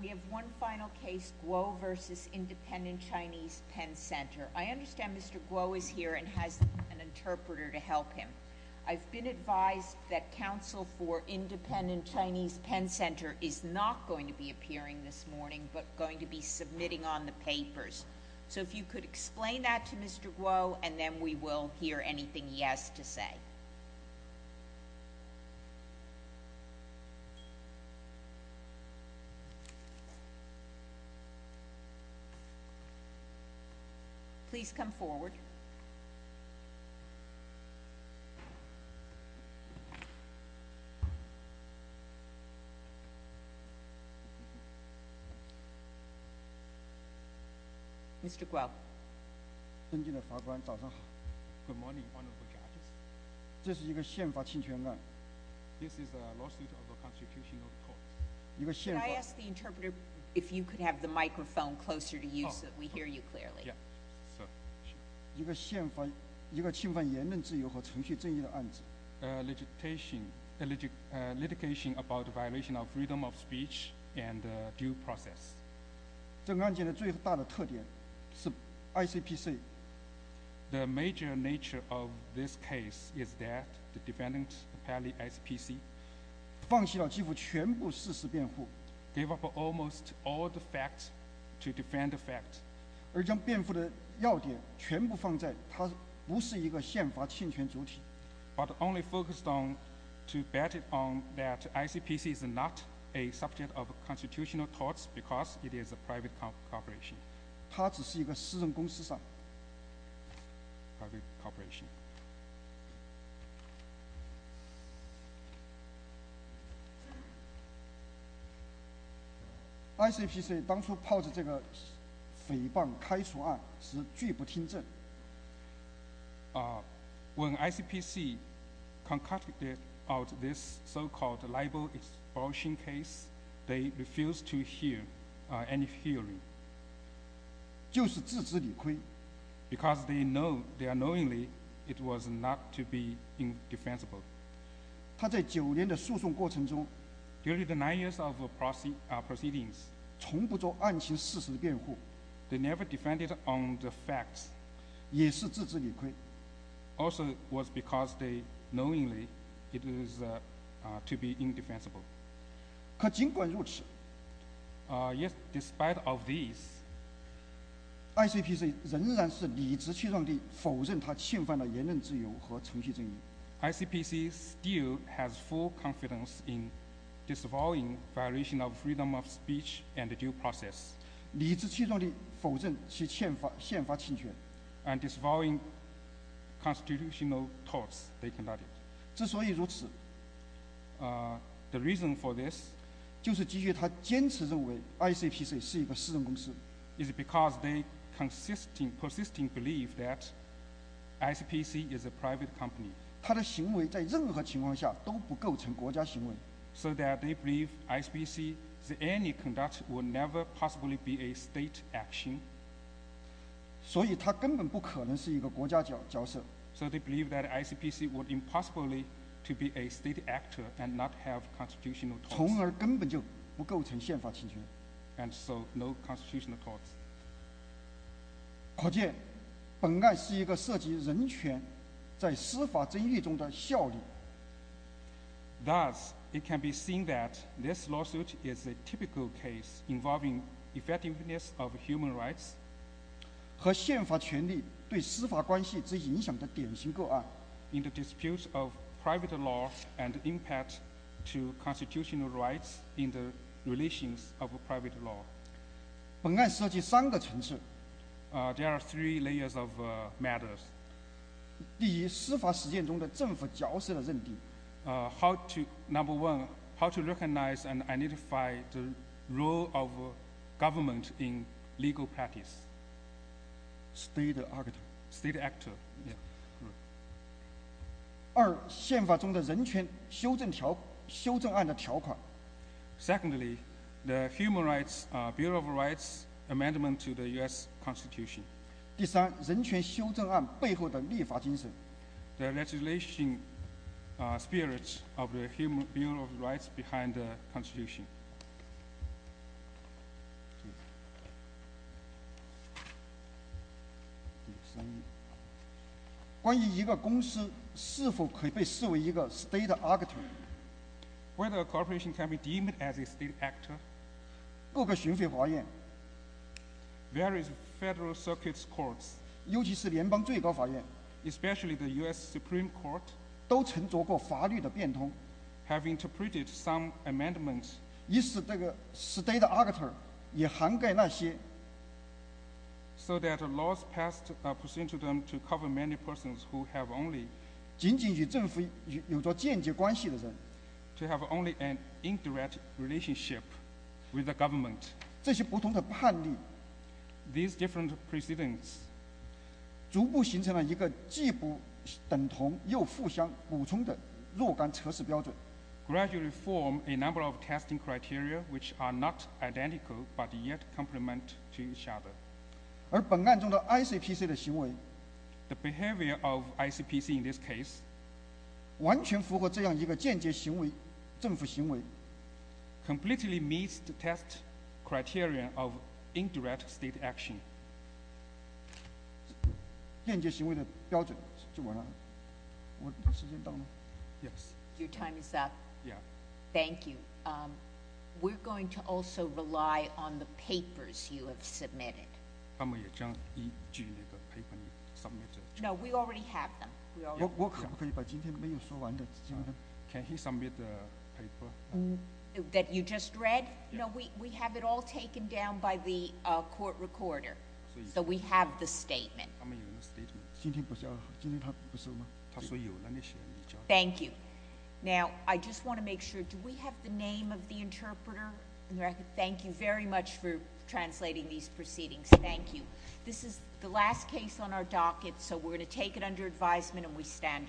We have one final case, Guo v. Independent Chinese Pen Center. I understand Mr. Guo is here and has an interpreter to help him. I've been advised that counsel for Independent Chinese Pen Center is not going to be appearing this morning, but going to be submitting on the papers. So if you could explain that to Mr. Guo, and then we will hear anything he has to say. Please come forward. Good morning, honorable judges. This is a lawsuit of the Constitutional Court. Could I ask the interpreter if you could have the microphone closer to you so that we hear you clearly? A litigation about violation of freedom of speech and due process. The major nature of this case is that the defendant, apparently ICPC, gave up almost all the facts to defend the fact, but only focused on to bet on that ICPC is not a subject of constitutional courts because it is a private corporation. When ICPC concocted out this so-called libel-expulsion case, they refused to hear any hearing. Because they know, they are knowingly, it was not to be indefensible. During the nine years of proceedings, they never defended on the facts, also was because they knowingly it is to be indefensible. Despite of this, ICPC still has full confidence in disavowing violation of freedom of speech and due process, and disavowing constitutional courts they conducted. The reason for this is because they persisting believe that ICPC is a private company, so that they believe ICPC is any conduct will never possibly be a state action. So they believe that ICPC would impossibly to be a state actor and not have constitutional courts, and so no constitutional courts. Thus, it can be seen that this lawsuit is a typical case involving effectiveness of human rights in the dispute of private law and impact to constitutional rights in the relations of private law. There are three layers of matters. Number one, how to recognize and identify the role of government in legal practice, state actor. Secondly, the human spirits of the human rights behind the constitution. Whether a corporation can be deemed as a state actor, so that laws passed to them to cover many persons who have only to have only an indirect state action. Gradually form a number of testing criteria which are not identical, but yet complement to each other. The behavior of ICPC in this case completely meets the requirements. Thank you. Now, I just wanted to make sure, do we have the name of the interpreter? Thank you very much for translating these proceedings. Thank you. This is the last case on our docket, so we're going to take it under advisement, and we stand adjourned.